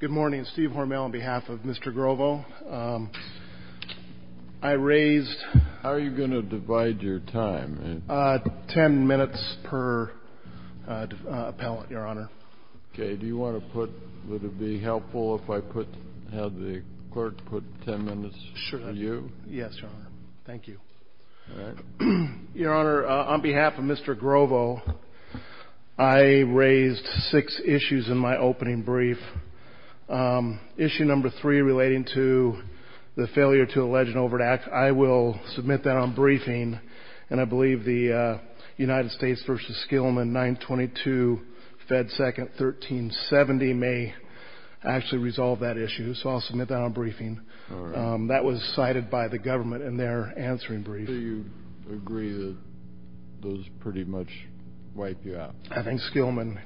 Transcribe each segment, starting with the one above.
Good morning, Steve Hormel on behalf of Mr. Grovo. I raised – How are you going to divide your time? Ten minutes per appellant, Your Honor. Okay. Do you want to put – would it be helpful if I had the court put ten minutes for you? Yes, Your Honor. Thank you. Your Honor, on behalf of Mr. Grovo, I raised six issues in my opening brief. Issue number three relating to the failure to allege an overt act, I will submit that on briefing, and I believe the United States v. Skillman 922 Fed 2nd 1370 may actually resolve that issue, and that was cited by the government in their answering brief. Do you agree that those pretty much wipe you out? I think Skillman,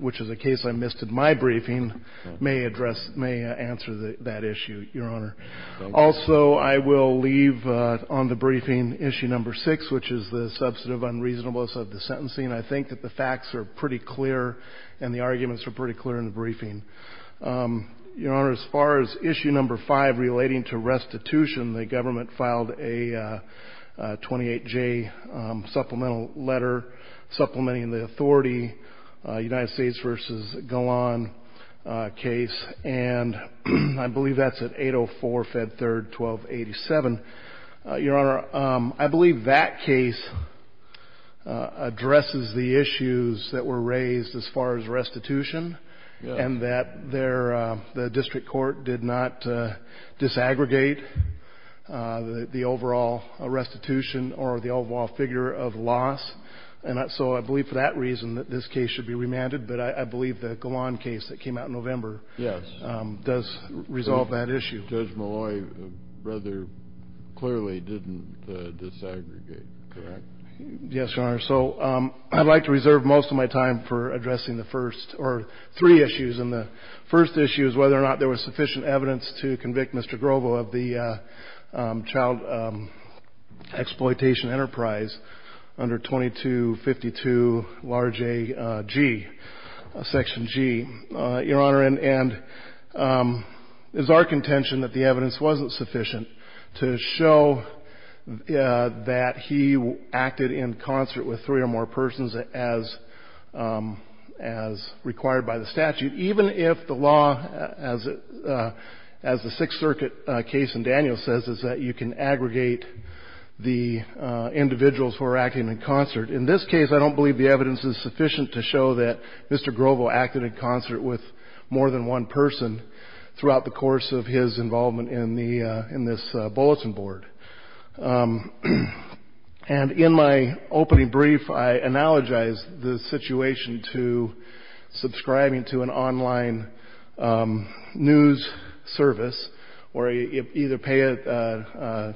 which is a case I missed in my briefing, may address – may answer that issue, Your Honor. Thank you. Also, I will leave on the briefing issue number six, which is the substantive unreasonableness of the sentencing. I think that the facts are pretty clear and the arguments are pretty clear in the briefing. Your Honor, as far as issue number five relating to restitution, the government filed a 28-J supplemental letter supplementing the authority United States v. Golan case, and I believe that's at 804 Fed 3rd 1287. Your Honor, I believe that case addresses the issues that were raised as far as restitution and that their – the district court did not disaggregate the overall restitution or the overall figure of loss, and so I believe for that reason that this case should be remanded, but I believe the Golan case that came out in November does resolve that issue. Judge Malloy rather clearly didn't disaggregate, correct? Yes, Your Honor. So I'd like to reserve most of my time for addressing the first – or three issues, and the first issue is whether or not there was sufficient evidence to convict Mr. Grobo of the child exploitation enterprise under 2252 large A G, section G, Your Honor, and is our contention that the evidence wasn't sufficient to show that he acted in concert with three or more persons as required by the statute, even if the law, as the Sixth Circuit case in Daniels says, is that you can aggregate the individuals who are acting in concert. In this case, I don't believe the evidence is sufficient to show that Mr. Grobo acted in concert with more than one person throughout the course of his involvement in the – in this bulletin board. And in my opening brief, I analogize the situation to subscribing to an online news service where you either pay a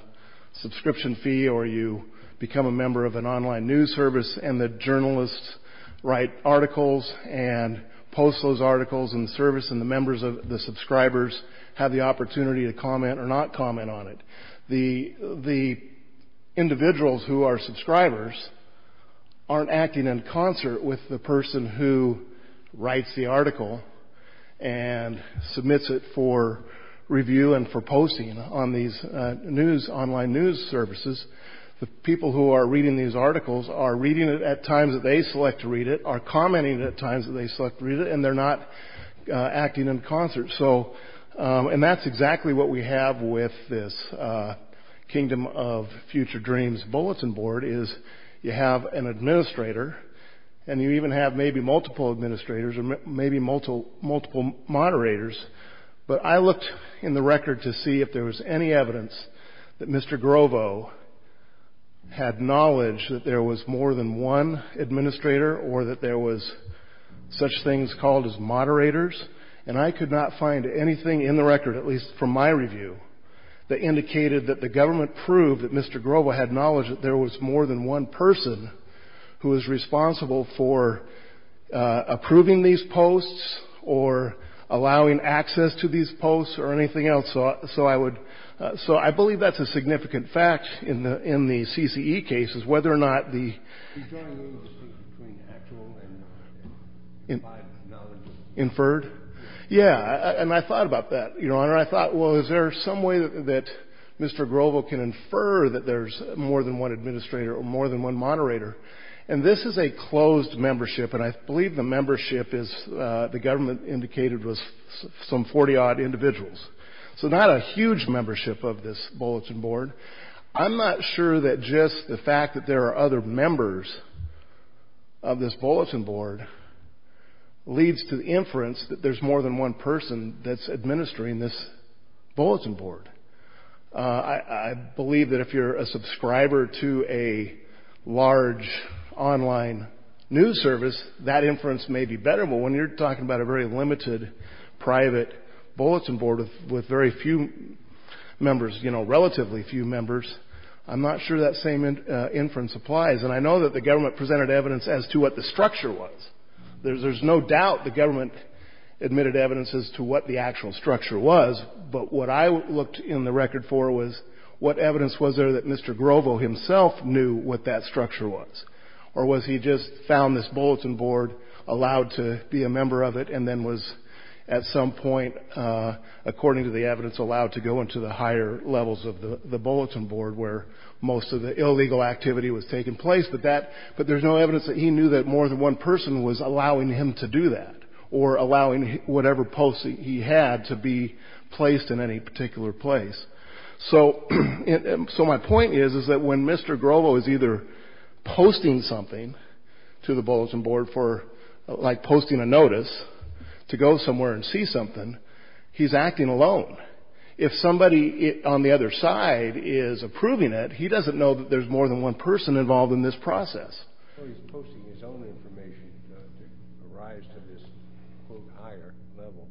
subscription fee or you become a member of an online news service and the journalists write articles and post those articles in the service and the members of the subscribers have the opportunity to comment or not comment on it. The individuals who are subscribers aren't acting in concert with the person who writes the article and submits it for review and for posting on these news – online news services. The people who are reading these articles are reading it at times that they select to read it, are commenting at times that they select to read it, and they're not acting in concert. So – and that's exactly what we have with this Kingdom of Future Dreams bulletin board is you have an administrator and you even have maybe multiple administrators or maybe multiple moderators, but I looked in the record to see if there was any evidence that Mr. Grobo had knowledge that there was more than one administrator or that there was such things called as moderators, and I could not find anything in the record, at least from my review, that indicated that the government proved that Mr. Grobo had knowledge that there was more than one person who was responsible for approving these posts or allowing access to these posts or anything else. So I would – so I believe that's a significant fact in the CCE cases, whether or not the – Are you talking about the split between actual and by knowledge? Inferred? Yeah, and I thought about that, Your Honor. I thought, well, is there some way that Mr. Grobo can infer that there's more than one administrator or more than one moderator, and this is a closed membership, and I believe the membership is the government indicated was some 40-odd individuals. So not a huge membership of this bulletin board. I'm not sure that just the fact that there are other members of this bulletin board leads to inference that there's more than one person that's administering this bulletin board. I believe that if you're a subscriber to a large online news service, that inference may be better, but when you're talking about a very limited private bulletin board with very few members, you know, relatively few members, I'm not sure that same inference applies, and I know that the government presented evidence as to what the structure was. There's no doubt the government admitted evidence as to what the actual structure was, but what I looked in the record for was what evidence was there that Mr. Grobo himself knew what that structure was, or was he just found this bulletin board, allowed to be a member of it, and then was at some point, according to the evidence, allowed to go into the higher levels of the bulletin board where most of the illegal activity was taking place, but there's no evidence that he knew that more than one person was allowing him to do that, or allowing whatever post he had to be placed in any particular place. So my point is that when Mr. Grobo is either posting something to the bulletin board, like posting a notice to go somewhere and see something, he's acting alone. If somebody on the other side is approving it, he doesn't know that there's more than one person involved in this process. So he's posting his own information to rise to this, quote, higher level.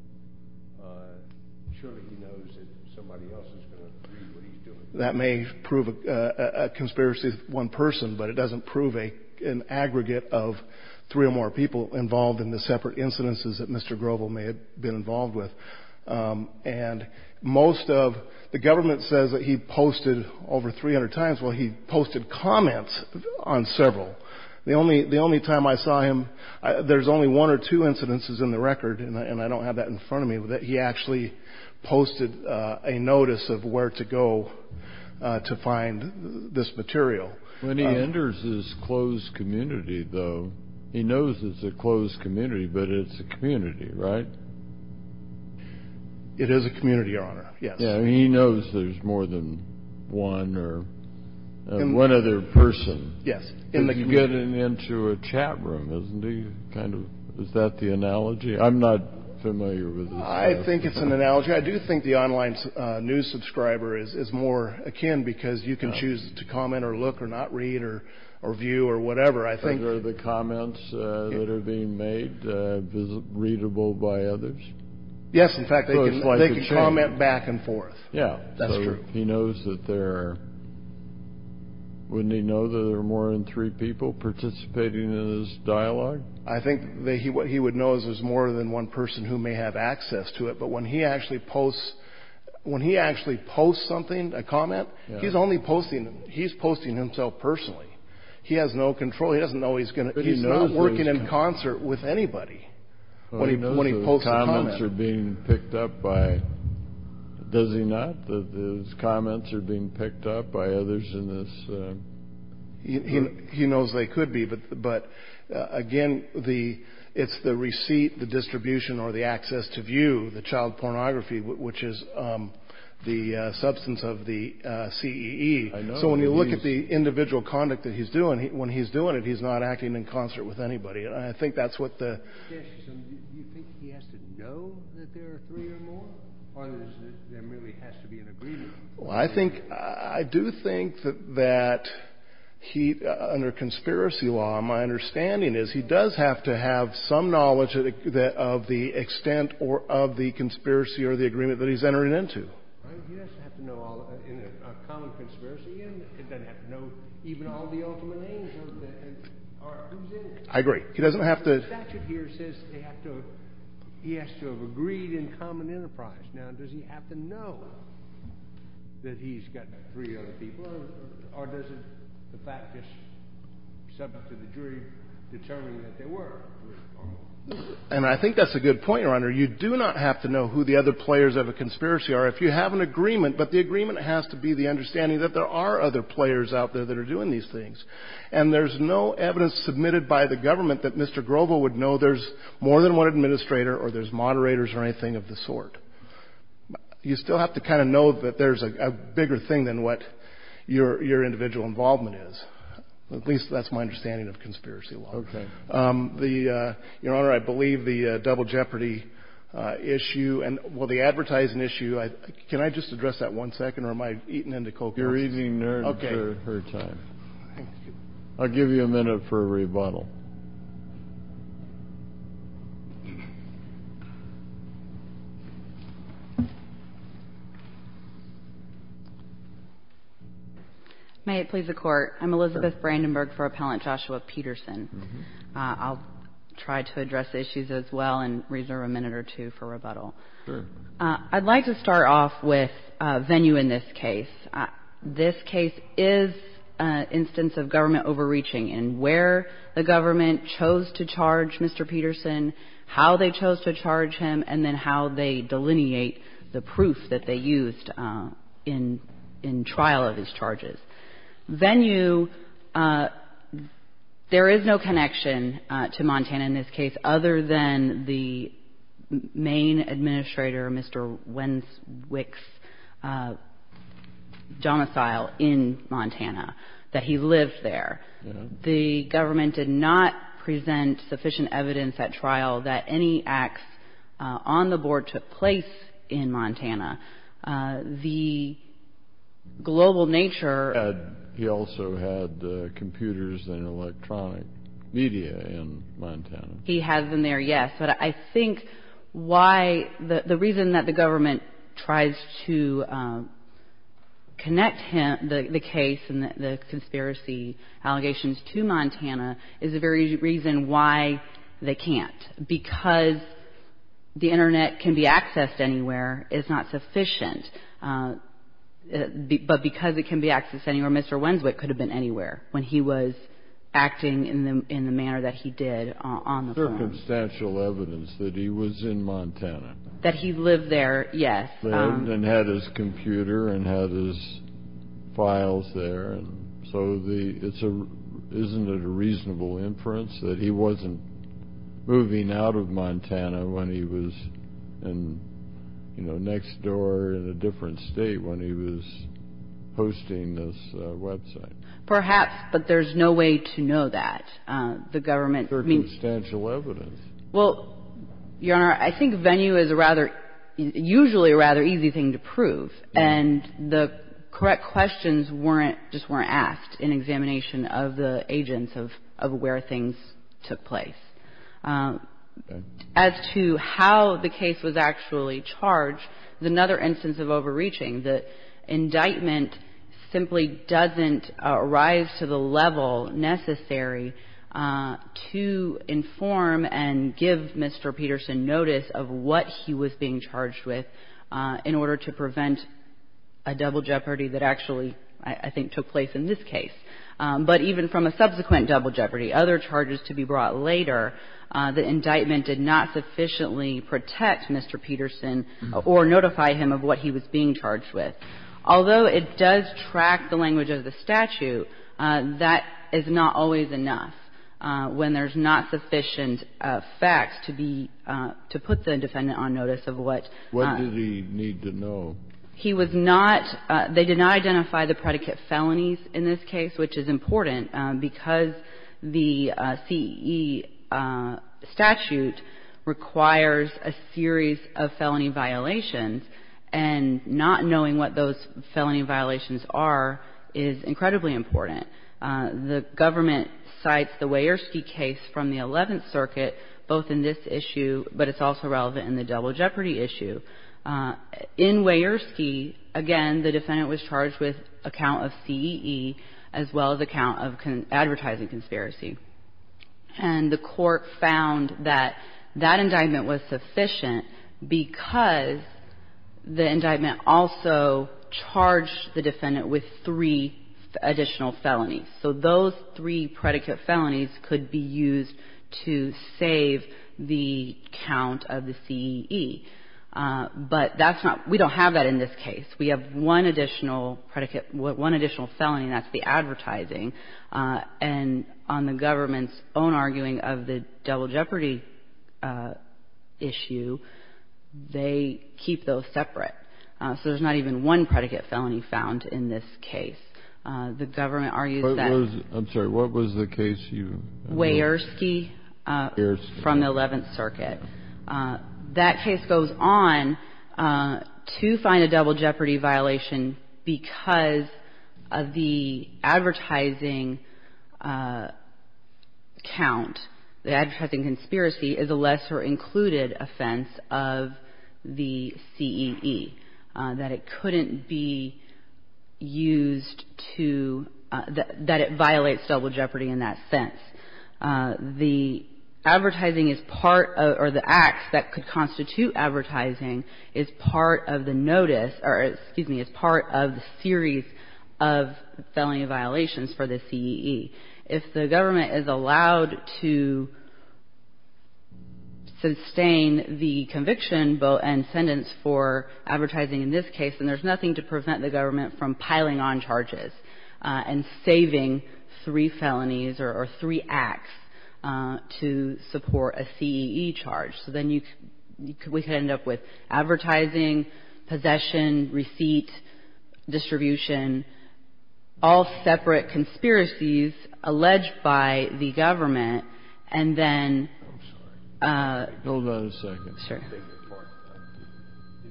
Surely he knows that somebody else is going to approve what he's doing. That may prove a conspiracy of one person, but it doesn't prove an aggregate of three or more people involved in the separate incidences that Mr. Grobo may have been involved with. And most of the government says that he posted over 300 times. Well, he posted comments on several. The only time I saw him, there's only one or two incidences in the record, and I don't have that in front of me, but he actually posted a notice of where to go to find this material. When he enters his closed community, though, he knows it's a closed community, but it's a community, right? It is a community, Your Honor, yes. Yeah, and he knows there's more than one or one other person. Yes. He's getting into a chat room, isn't he? Kind of. Is that the analogy? I'm not familiar with this. I think it's an analogy. I do think the online news subscriber is more akin because you can choose to comment or look or not read or view or whatever. Are the comments that are being made readable by others? Yes, in fact, they can comment back and forth. Yeah. That's true. Wouldn't he know that there are more than three people participating in this dialogue? I think what he would know is there's more than one person who may have access to it, but when he actually posts something, a comment, he's only posting himself personally. He has no control. He's not working in concert with anybody when he posts a comment. His comments are being picked up by, does he not, that his comments are being picked up by others in this? He knows they could be, but, again, it's the receipt, the distribution, or the access to view, the child pornography, which is the substance of the CEE. I know. So when you look at the individual conduct that he's doing, when he's doing it, he's not acting in concert with anybody. I think that's what the — Do you think he has to know that there are three or more? Or there really has to be an agreement? Well, I think — I do think that he, under conspiracy law, my understanding is he does have to have some knowledge of the extent of the conspiracy or the agreement that he's entering into. Right? He doesn't have to know all — in a common conspiracy, he doesn't have to know even all the ultimate names of the — who's in it. I agree. He doesn't have to — The statute here says they have to — he has to have agreed in common enterprise. Now, does he have to know that he's got three other people, or does the fact just subject to the jury determining that they were? And I think that's a good point, Your Honor. You do not have to know who the other players of a conspiracy are. If you have an agreement, but the agreement has to be the understanding that there are other players out there that are doing these things. And there's no evidence submitted by the government that Mr. Grobo would know there's more than one administrator or there's moderators or anything of the sort. You still have to kind of know that there's a bigger thing than what your individual involvement is. At least that's my understanding of conspiracy law. Okay. The — Your Honor, I believe the double jeopardy issue and — well, the advertising issue, I — can I just address that one second, or am I eating into — You're eating nerds for her time. I'll give you a minute for a rebuttal. May it please the Court. I'm Elizabeth Brandenburg for Appellant Joshua Peterson. I'll try to address the issues as well and reserve a minute or two for rebuttal. Sure. I'd like to start off with venue in this case. This case is an instance of government overreaching in where the government chose to charge Mr. Peterson, how they chose to charge him, and then how they delineate the proof that they used in trial of his charges. Venue, there is no connection to Montana in this case other than the main administrator, Mr. Wenswick's, domicile in Montana, that he lived there. The government did not present sufficient evidence at trial that any acts on the board took place in Montana. The global nature — He also had computers and electronic media in Montana. He has them there, yes. But I think why — the reason that the government tries to connect the case and the conspiracy allegations to Montana is the very reason why they can't. Because the Internet can be accessed anywhere, it's not sufficient. But because it can be accessed anywhere, Mr. Wenswick could have been anywhere when he was acting in the manner that he did on the board. Circumstantial evidence that he was in Montana. That he lived there, yes. And had his computer and had his files there. So isn't it a reasonable inference that he wasn't moving out of Montana when he was next door in a different state when he was hosting this website? Perhaps, but there's no way to know that. The government — Circumstantial evidence. Well, Your Honor, I think venue is a rather — usually a rather easy thing to prove. And the correct questions weren't — just weren't asked in examination of the agents of where things took place. As to how the case was actually charged is another instance of overreaching. The indictment simply doesn't rise to the level necessary to inform and give Mr. Peterson notice of what he was being charged with in order to prevent a double jeopardy that actually, I think, took place in this case. But even from a subsequent double jeopardy, other charges to be brought later, the indictment did not sufficiently protect Mr. Peterson or notify him of what he was being charged with. Although it does track the language of the statute, that is not always enough when there's not sufficient facts to be — to put the defendant on notice of what — What did he need to know? He was not — they did not identify the predicate felonies in this case, which is important because the CE statute requires a series of felony violations. And not knowing what those felony violations are is incredibly important. The government cites the Weiersky case from the Eleventh Circuit both in this issue, but it's also relevant in the double jeopardy issue. In Weiersky, again, the defendant was charged with a count of CEE as well as a count of advertising conspiracy. And the court found that that indictment was sufficient because the indictment also charged the defendant with three additional felonies. So those three predicate felonies could be used to save the count of the CEE. But that's not — we don't have that in this case. We have one additional predicate — one additional felony, and that's the advertising. And on the government's own arguing of the double jeopardy issue, they keep those separate. So there's not even one predicate felony found in this case. The government argues that — I'm sorry. What was the case you — Weiersky from the Eleventh Circuit. That case goes on to find a double jeopardy violation because of the advertising count. The advertising conspiracy is a lesser included offense of the CEE, that it couldn't be used to — that it violates double jeopardy in that sense. The advertising is part — or the acts that could constitute advertising is part of the notice — or, excuse me, is part of the series of felony violations for the CEE. If the government is allowed to sustain the conviction and sentence for advertising in this case, then there's nothing to prevent the government from piling on charges and saving three felonies or three acts to support a CEE charge. So then you — we could end up with advertising, possession, receipt, distribution, all separate conspiracies alleged by the government, and then — I'm sorry. Hold on a second. Sure. Even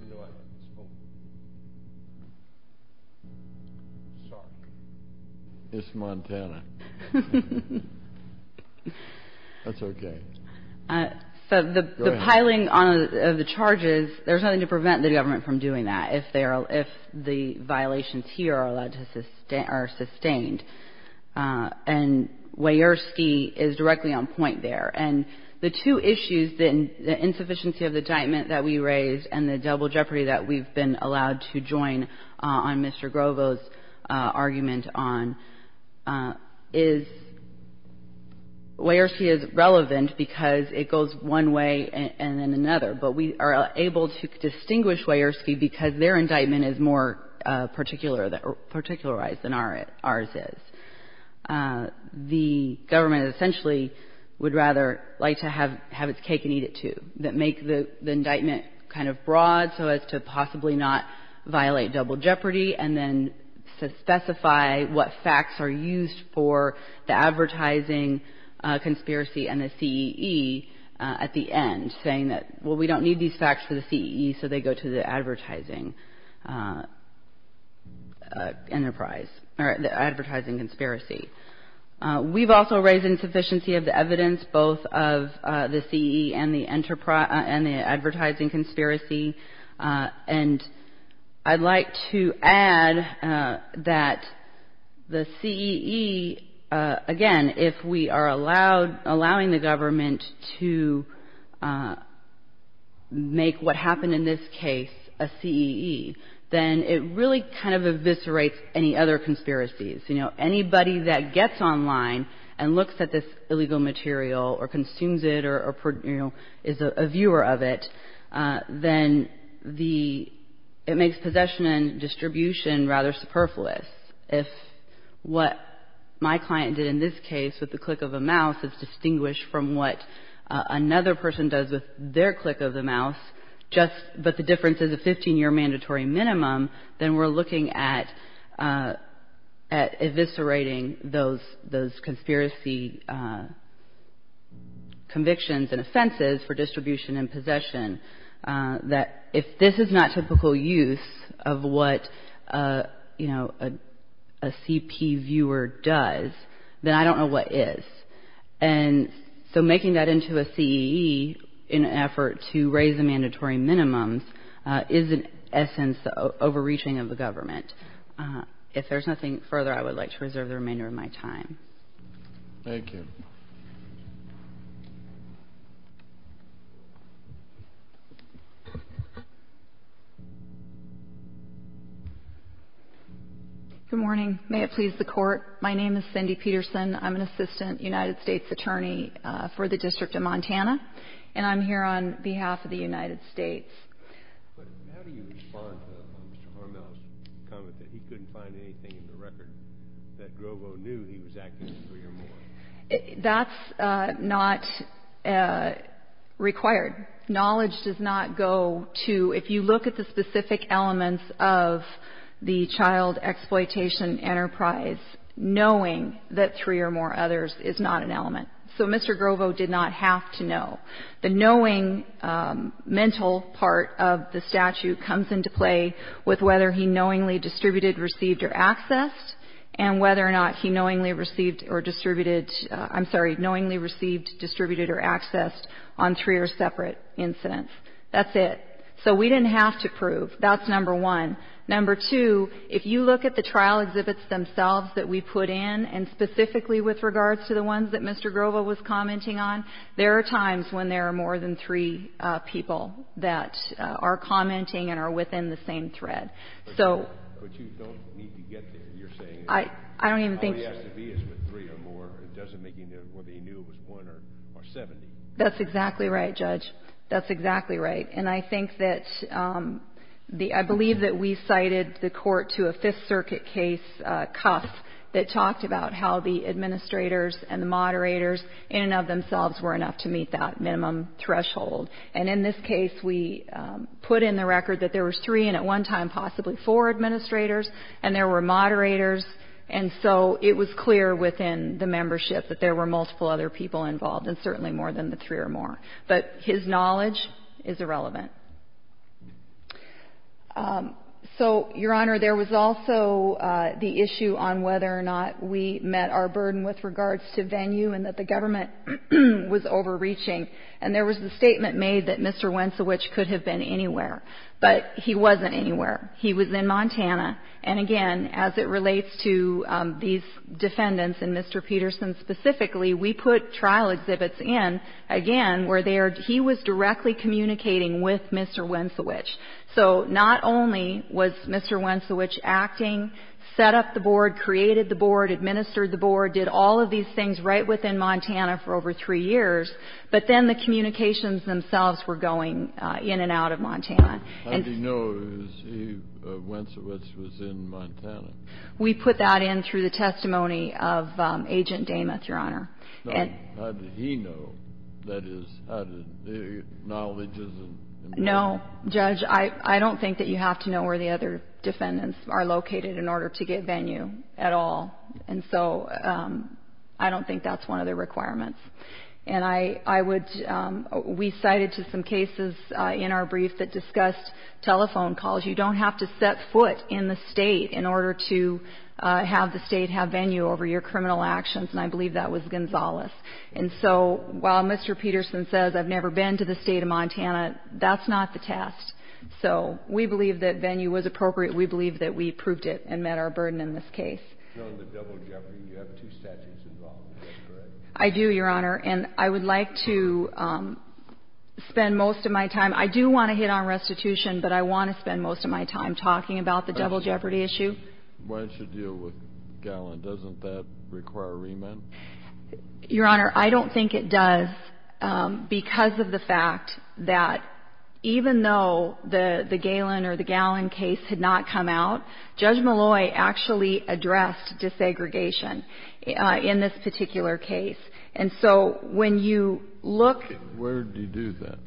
though I didn't smoke. Sorry. It's Montana. That's okay. So the piling on of the charges, there's nothing to prevent the government from doing that if they are — if the violations here are allowed to — are sustained. And Wierski is directly on point there. And the two issues, the insufficiency of the indictment that we raised and the double jeopardy that we've been allowed to join on Mr. Grovo's argument on, is — Wierski is relevant because it goes one way and then another. But we are able to distinguish Wierski because their indictment is more particular — particularized than ours is. The government essentially would rather like to have its cake and eat it, too, that make the indictment kind of broad so as to possibly not violate double jeopardy and then specify what facts are used for the advertising conspiracy and the CEE at the end, saying that, well, we don't need these facts for the CEE, so they go to the advertising enterprise — the advertising conspiracy. We've also raised insufficiency of the evidence, both of the CEE and the advertising conspiracy. And I'd like to add that the CEE, again, if we are allowing the government to make what happened in this case a CEE, then it really kind of eviscerates any other conspiracies. You know, anybody that gets online and looks at this illegal material or consumes it or, you know, is a viewer of it, then it makes possession and distribution rather superfluous. If what my client did in this case with the click of a mouse is distinguished from what another person does with their click of the mouse, but the difference is a 15-year mandatory minimum, then we're looking at eviscerating those conspiracy convictions and offenses for distribution and possession, that if this is not typical use of what, you know, a CP viewer does, then I don't know what is. And so making that into a CEE in an effort to raise the mandatory minimums is, in essence, the overreaching of the government. If there's nothing further, I would like to reserve the remainder of my time. Thank you. Good morning. May it please the Court. My name is Cindy Peterson. I'm an assistant United States attorney for the District of Montana, and I'm here on behalf of the United States. But how do you respond to Mr. Harmel's comment that he couldn't find anything in the record, that Grobo knew he was acting as a three or more? That's not required. Knowledge does not go to, if you look at the specific elements of the child exploitation enterprise, knowing that three or more others is not an element. So Mr. Grobo did not have to know. The knowing mental part of the statute comes into play with whether he knowingly distributed, received, or accessed, and whether or not he knowingly received or distributed, I'm sorry, knowingly received, distributed, or accessed on three or separate incidents. That's it. So we didn't have to prove. That's number one. Number two, if you look at the trial exhibits themselves that we put in, and specifically with regards to the ones that Mr. Grobo was commenting on, there are times when there are more than three people that are commenting and are within the same thread. But you don't need to get there, you're saying. I don't even think. All he has to be is with three or more. It doesn't make any difference whether he knew it was one or 70. That's exactly right, Judge. That's exactly right. And I think that the ‑‑ I believe that we cited the court to a Fifth Circuit case, Cuff, that talked about how the administrators and the moderators in and of themselves were enough to meet that minimum threshold. And in this case, we put in the record that there was three and at one time possibly four administrators, and there were moderators, and so it was clear within the membership that there were multiple other people involved, and certainly more than the three or more. But his knowledge is irrelevant. So, Your Honor, there was also the issue on whether or not we met our burden with regards to venue and that the government was overreaching. And there was a statement made that Mr. Wentzowich could have been anywhere, but he wasn't anywhere. He was in Montana. And, again, as it relates to these defendants and Mr. Peterson specifically, we put trial exhibits in, again, where he was directly communicating with Mr. Wentzowich. So not only was Mr. Wentzowich acting, set up the board, created the board, administered the board, did all of these things right within Montana for over three years, but then the communications themselves were going in and out of Montana. How did he know Wentzowich was in Montana? We put that in through the testimony of Agent Damath, Your Honor. How did he know? That is, how did the knowledges? No, Judge, I don't think that you have to know where the other defendants are located in order to get venue at all. And so I don't think that's one of the requirements. And we cited to some cases in our brief that discussed telephone calls. You don't have to set foot in the state in order to have the state have venue over your criminal actions, and I believe that was Gonzalez. And so while Mr. Peterson says, I've never been to the state of Montana, that's not the test. So we believe that venue was appropriate. We believe that we proved it and met our burden in this case. You're on the double jeopardy. You have two statutes involved. Is that correct? I do, Your Honor, and I would like to spend most of my time. I do want to hit on restitution, but I want to spend most of my time talking about the double jeopardy issue. Why don't you deal with Galen? Doesn't that require remand? Your Honor, I don't think it does because of the fact that even though the Galen or the Galen case had not come out, Judge Malloy actually addressed desegregation in this particular case. And so when you look. Where did he do that?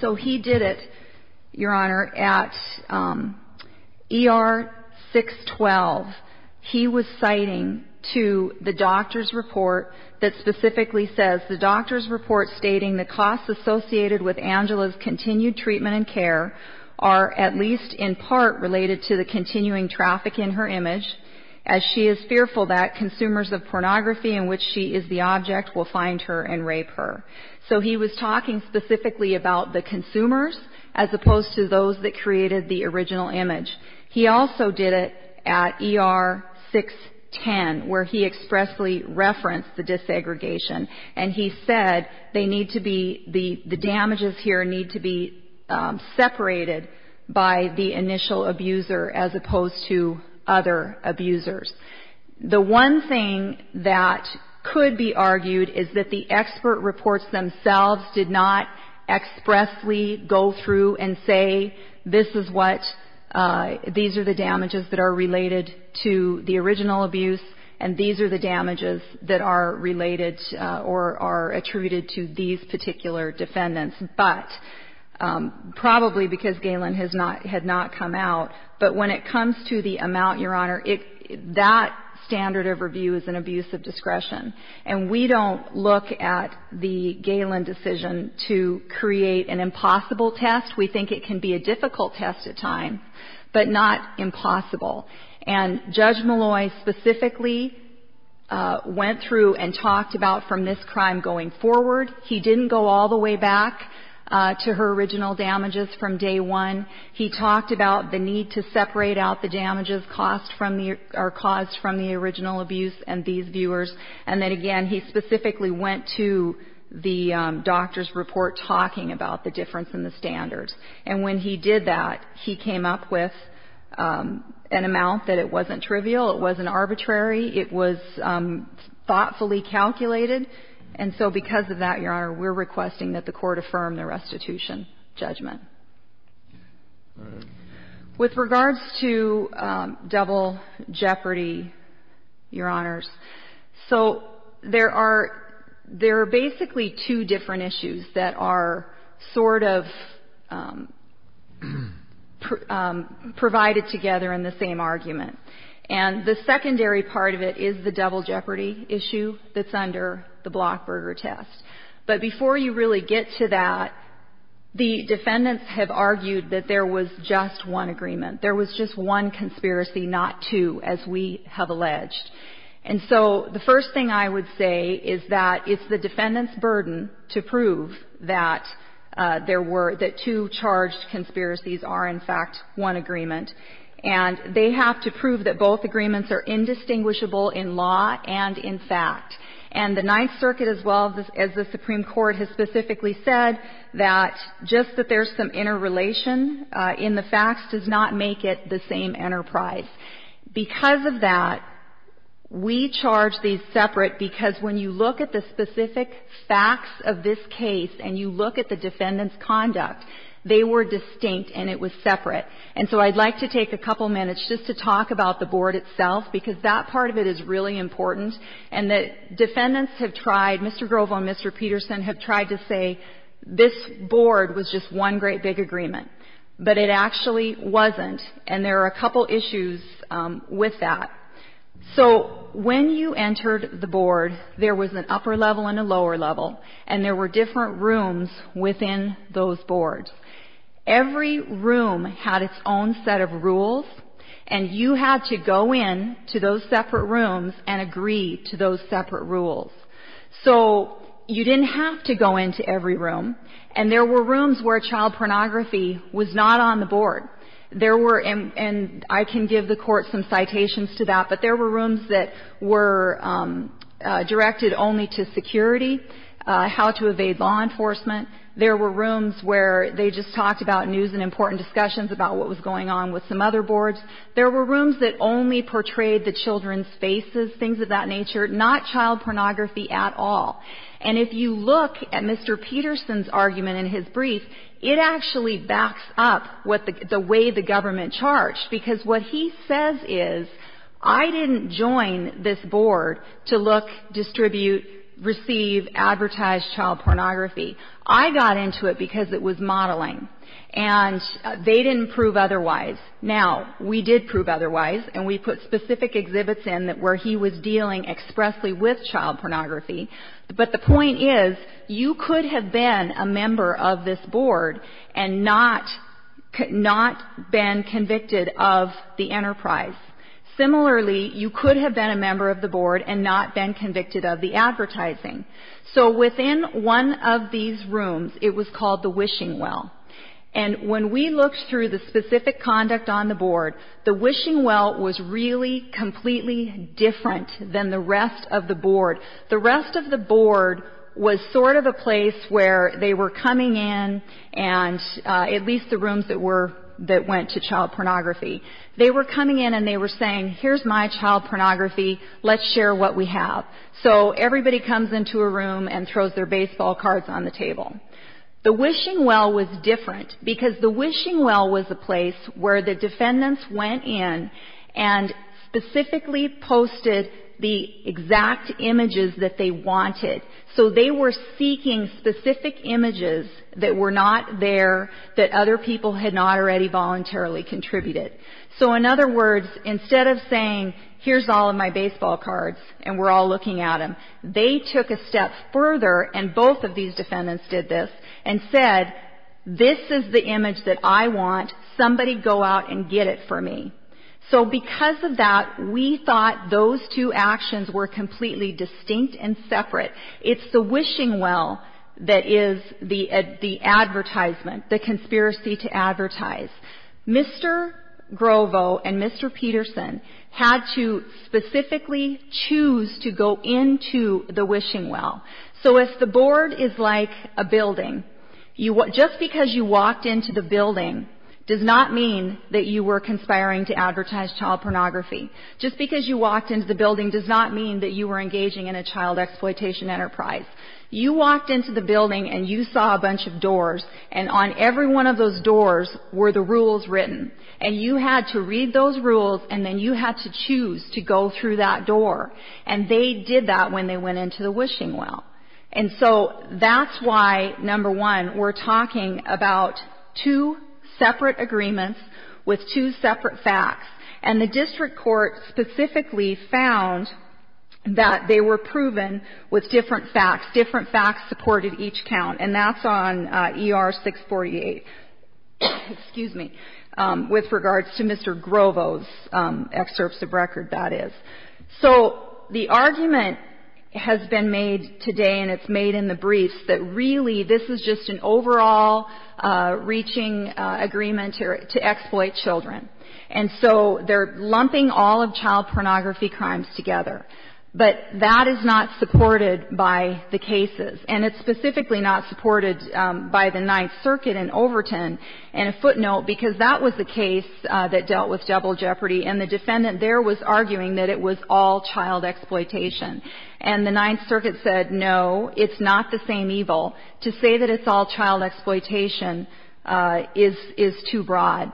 So he did it, Your Honor, at ER 612. He was citing to the doctor's report that specifically says, the doctor's report stating the costs associated with Angela's continued treatment and care are at least in part related to the continuing traffic in her image, as she is fearful that consumers of pornography in which she is the object will find her and rape her. So he was talking specifically about the consumers as opposed to those that created the original image. He also did it at ER 610 where he expressly referenced the desegregation. And he said they need to be, the damages here need to be separated by the initial abuser as opposed to other abusers. The one thing that could be argued is that the expert reports themselves did not expressly go through and say this is what, these are the damages that are related to the original abuse and these are the damages that are related or are attributed to these particular defendants. But probably because Galen had not come out. But when it comes to the amount, Your Honor, that standard of review is an abuse of discretion. And we don't look at the Galen decision to create an impossible test. We think it can be a difficult test at times, but not impossible. And Judge Malloy specifically went through and talked about from this crime going forward. He didn't go all the way back to her original damages from day one. He talked about the need to separate out the damages caused from the original abuse and these viewers. And then again, he specifically went to the doctor's report talking about the difference in the standards. And when he did that, he came up with an amount that it wasn't trivial. It wasn't arbitrary. It was thoughtfully calculated. And so because of that, Your Honor, we're requesting that the court affirm the restitution judgment. With regards to double jeopardy, Your Honors, so there are basically two different issues that are sort of provided together in the same argument. And the secondary part of it is the double jeopardy issue that's under the Blockburger test. But before you really get to that, the defendants have argued that there was just one agreement. There was just one conspiracy, not two, as we have alleged. And so the first thing I would say is that it's the defendant's burden to prove that there were – that two charged conspiracies are, in fact, one agreement. And they have to prove that both agreements are indistinguishable in law and in fact. And the Ninth Circuit, as well as the Supreme Court, has specifically said that just that there's some interrelation in the facts does not make it the same enterprise. Because of that, we charge these separate because when you look at the specific facts of this case and you look at the defendant's conduct, they were distinct and it was separate. And so I'd like to take a couple minutes just to talk about the board itself because that part of it is really important. And the defendants have tried – Mr. Grovo and Mr. Peterson have tried to say this board was just one great big agreement. But it actually wasn't. And there are a couple issues with that. So when you entered the board, there was an upper level and a lower level. And there were different rooms within those boards. Every room had its own set of rules. And you had to go in to those separate rooms and agree to those separate rules. So you didn't have to go into every room. And there were rooms where child pornography was not on the board. There were – and I can give the Court some citations to that. But there were rooms that were directed only to security, how to evade law enforcement. There were rooms where they just talked about news and important discussions about what was going on with some other boards. There were rooms that only portrayed the children's faces, things of that nature, not child pornography at all. And if you look at Mr. Peterson's argument in his brief, it actually backs up the way the government charged. Because what he says is, I didn't join this board to look, distribute, receive, advertise child pornography. I got into it because it was modeling. And they didn't prove otherwise. Now, we did prove otherwise. And we put specific exhibits in where he was dealing expressly with child pornography. But the point is, you could have been a member of this board and not been convicted of the enterprise. Similarly, you could have been a member of the board and not been convicted of the advertising. So within one of these rooms, it was called the wishing well. And when we looked through the specific conduct on the board, the wishing well was really completely different than the rest of the board. The rest of the board was sort of a place where they were coming in, and at least the rooms that went to child pornography, they were coming in and they were saying, here's my child pornography, let's share what we have. So everybody comes into a room and throws their baseball cards on the table. The wishing well was different because the wishing well was a place where the defendants went in and specifically posted the exact images that they wanted. So they were seeking specific images that were not there, that other people had not already voluntarily contributed. So in other words, instead of saying, here's all of my baseball cards and we're all looking at them, they took a step further, and both of these defendants did this, and said, this is the image that I want. Somebody go out and get it for me. So because of that, we thought those two actions were completely distinct and separate. It's the wishing well that is the advertisement, the conspiracy to advertise. Mr. Grovo and Mr. Peterson had to specifically choose to go into the wishing well. So if the board is like a building, just because you walked into the building does not mean that you were conspiring to advertise child pornography. Just because you walked into the building does not mean that you were engaging in a child exploitation enterprise. You walked into the building and you saw a bunch of doors, and on every one of those doors were the rules written. And you had to read those rules, and then you had to choose to go through that door. And they did that when they went into the wishing well. And so that's why, number one, we're talking about two separate agreements with two separate facts. And the district court specifically found that they were proven with different facts. Different facts supported each count. And that's on ER 648, with regards to Mr. Grovo's excerpts of record, that is. So the argument has been made today, and it's made in the briefs, that really this is just an overall reaching agreement to exploit children. And so they're lumping all of child pornography crimes together. But that is not supported by the cases. And it's specifically not supported by the Ninth Circuit in Overton. And a footnote, because that was the case that dealt with double jeopardy, and the defendant there was arguing that it was all child exploitation. And the Ninth Circuit said, no, it's not the same evil. To say that it's all child exploitation is too broad.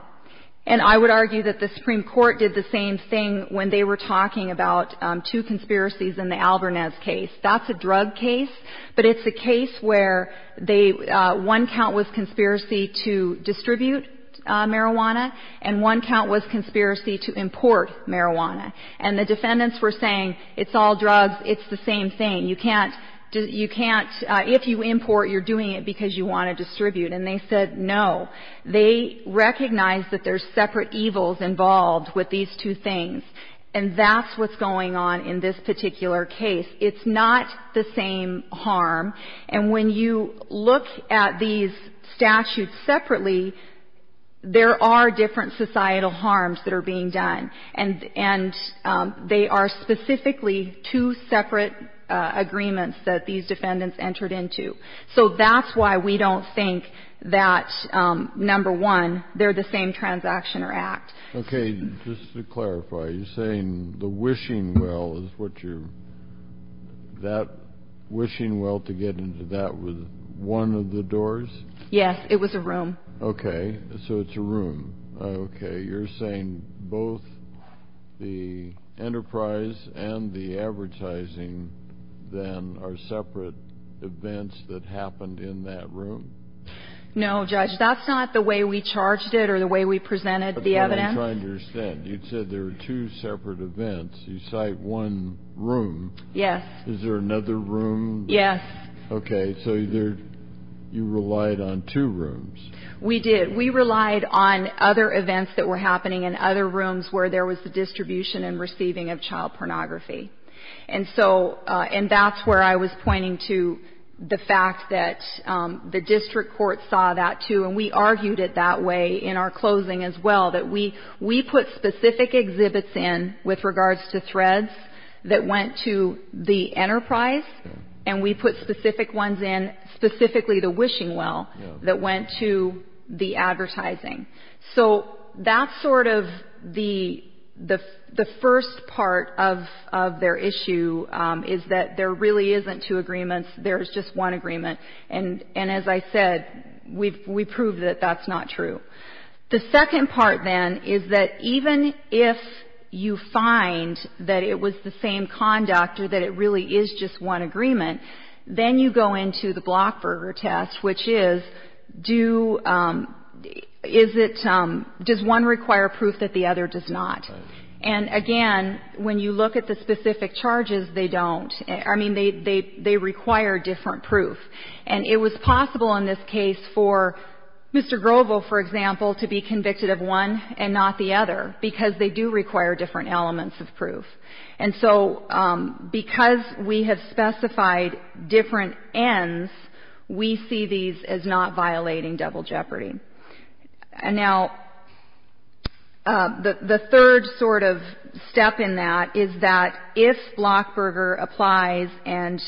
And I would argue that the Supreme Court did the same thing when they were talking about two conspiracies in the Albernez case. That's a drug case, but it's a case where one count was conspiracy to distribute marijuana, and one count was conspiracy to import marijuana. And the defendants were saying, it's all drugs, it's the same thing. You can't, if you import, you're doing it because you want to distribute. And they said, no. They recognize that there's separate evils involved with these two things. And that's what's going on in this particular case. It's not the same harm. And when you look at these statutes separately, there are different societal harms that are being done. And they are specifically two separate agreements that these defendants entered into. So that's why we don't think that, number one, they're the same transaction or act. Okay. Just to clarify, you're saying the wishing well is what you're ‑‑ that wishing well to get into that was one of the doors? Yes. It was a room. Okay. So it's a room. Okay. You're saying both the enterprise and the advertising, then, are separate events that happened in that room? No, Judge. That's not the way we charged it or the way we presented the evidence. That's what I'm trying to understand. You said there were two separate events. You cite one room. Yes. Is there another room? Yes. Okay. So you relied on two rooms. We did. We relied on other events that were happening in other rooms where there was the distribution and receiving of child pornography. And that's where I was pointing to the fact that the district court saw that, too, and we argued it that way in our closing as well, that we put specific exhibits in with regards to threads that went to the enterprise, and we put specific ones in, specifically the wishing well, that went to the advertising. So that's sort of the first part of their issue, is that there really isn't two agreements. There is just one agreement. And as I said, we proved that that's not true. The second part, then, is that even if you find that it was the same conduct or that it really is just one agreement, then you go into the Blockburger test, which is, does one require proof that the other does not? And, again, when you look at the specific charges, they don't. I mean, they require different proof. And it was possible in this case for Mr. Grovo, for example, to be convicted of one and not the other because they do require different elements of proof. And so because we have specified different ends, we see these as not violating double jeopardy. Now, the third sort of step in that is that if Blockburger applies and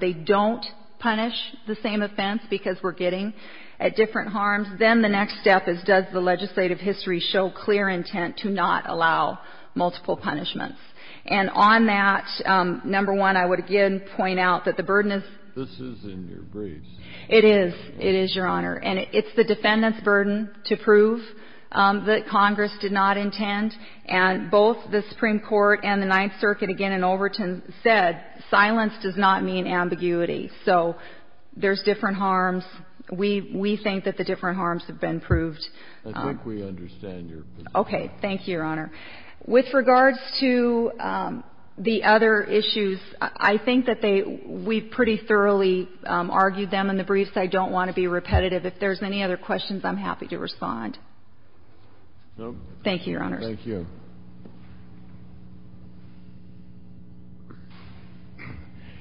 they don't punish the same offense because we're getting at different harms, then the next step is, does the legislative history show clear intent to not allow multiple punishments? And on that, number one, I would again point out that the burden is ‑‑ This is in your briefs. It is. It is, Your Honor. And it's the defendant's burden to prove that Congress did not intend. And both the Supreme Court and the Ninth Circuit, again, in Overton, said silence does not mean ambiguity. So there's different harms. We think that the different harms have been proved. I think we understand your position. Okay. Thank you, Your Honor. With regards to the other issues, I think that they ‑‑ we pretty thoroughly argued them in the briefs. I don't want to be repetitive. If there's any other questions, I'm happy to respond. Thank you, Your Honor. Thank you.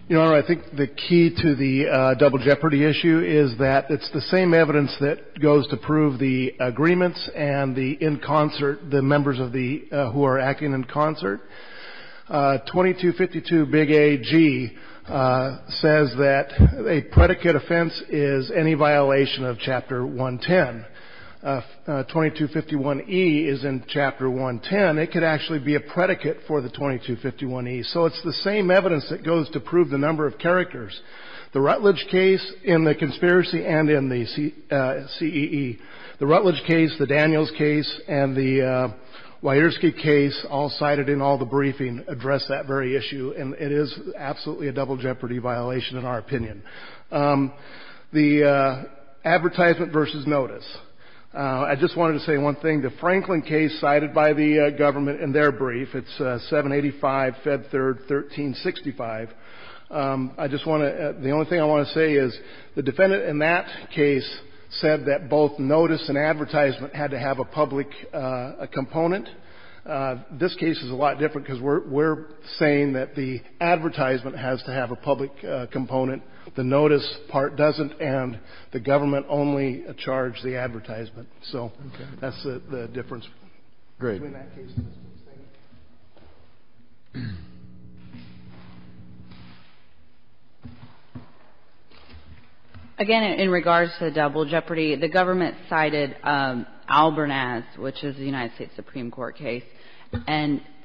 Your Honor, I think the key to the double jeopardy issue is that it's the same evidence that goes to prove the agreements and the in concert, the members of the ‑‑ who are acting in concert. 2252 Big A.G. says that a predicate offense is any violation of Chapter 110. 2251e is in Chapter 110. It could actually be a predicate for the 2251e. So it's the same evidence that goes to prove the number of characters. The Rutledge case in the conspiracy and in the CEE, the Rutledge case, the Daniels case, and the Wierski case all cited in all the briefing address that very issue. And it is absolutely a double jeopardy violation in our opinion. The advertisement versus notice. I just wanted to say one thing. The Franklin case cited by the government in their brief, it's 785, Feb. 3rd, 1365. I just want to ‑‑ the only thing I want to say is the defendant in that case said that both notice and advertisement had to have a public component. This case is a lot different because we're saying that the advertisement has to have a public component and the notice part doesn't and the government only charged the advertisement. So that's the difference. Again, in regards to the double jeopardy, the government cited Albernaz, which is the United States Supreme Court case,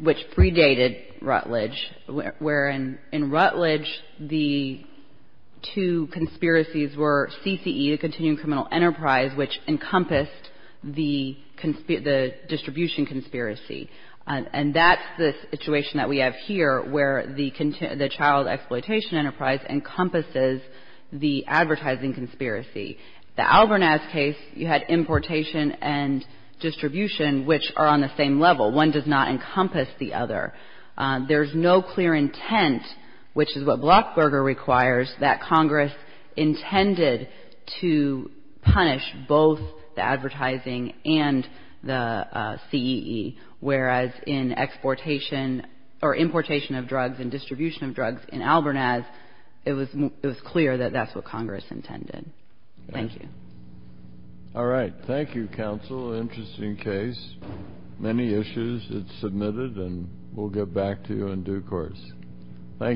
which predated Rutledge, where in Rutledge the two conspiracies were CCE, the continuing criminal enterprise, which encompassed the distribution conspiracy. And that's the situation that we have here, where the child exploitation enterprise encompasses the advertising conspiracy. The Albernaz case, you had importation and distribution, which are on the same level. One does not encompass the other. There's no clear intent, which is what Blockberger requires, that Congress intended to punish both the advertising and the CCE, whereas in importation of drugs and distribution of drugs in Albernaz, it was clear that that's what Congress intended. Thank you. All right. Thank you, counsel. Interesting case. Many issues. It's submitted, and we'll get back to you in due course. Thank you.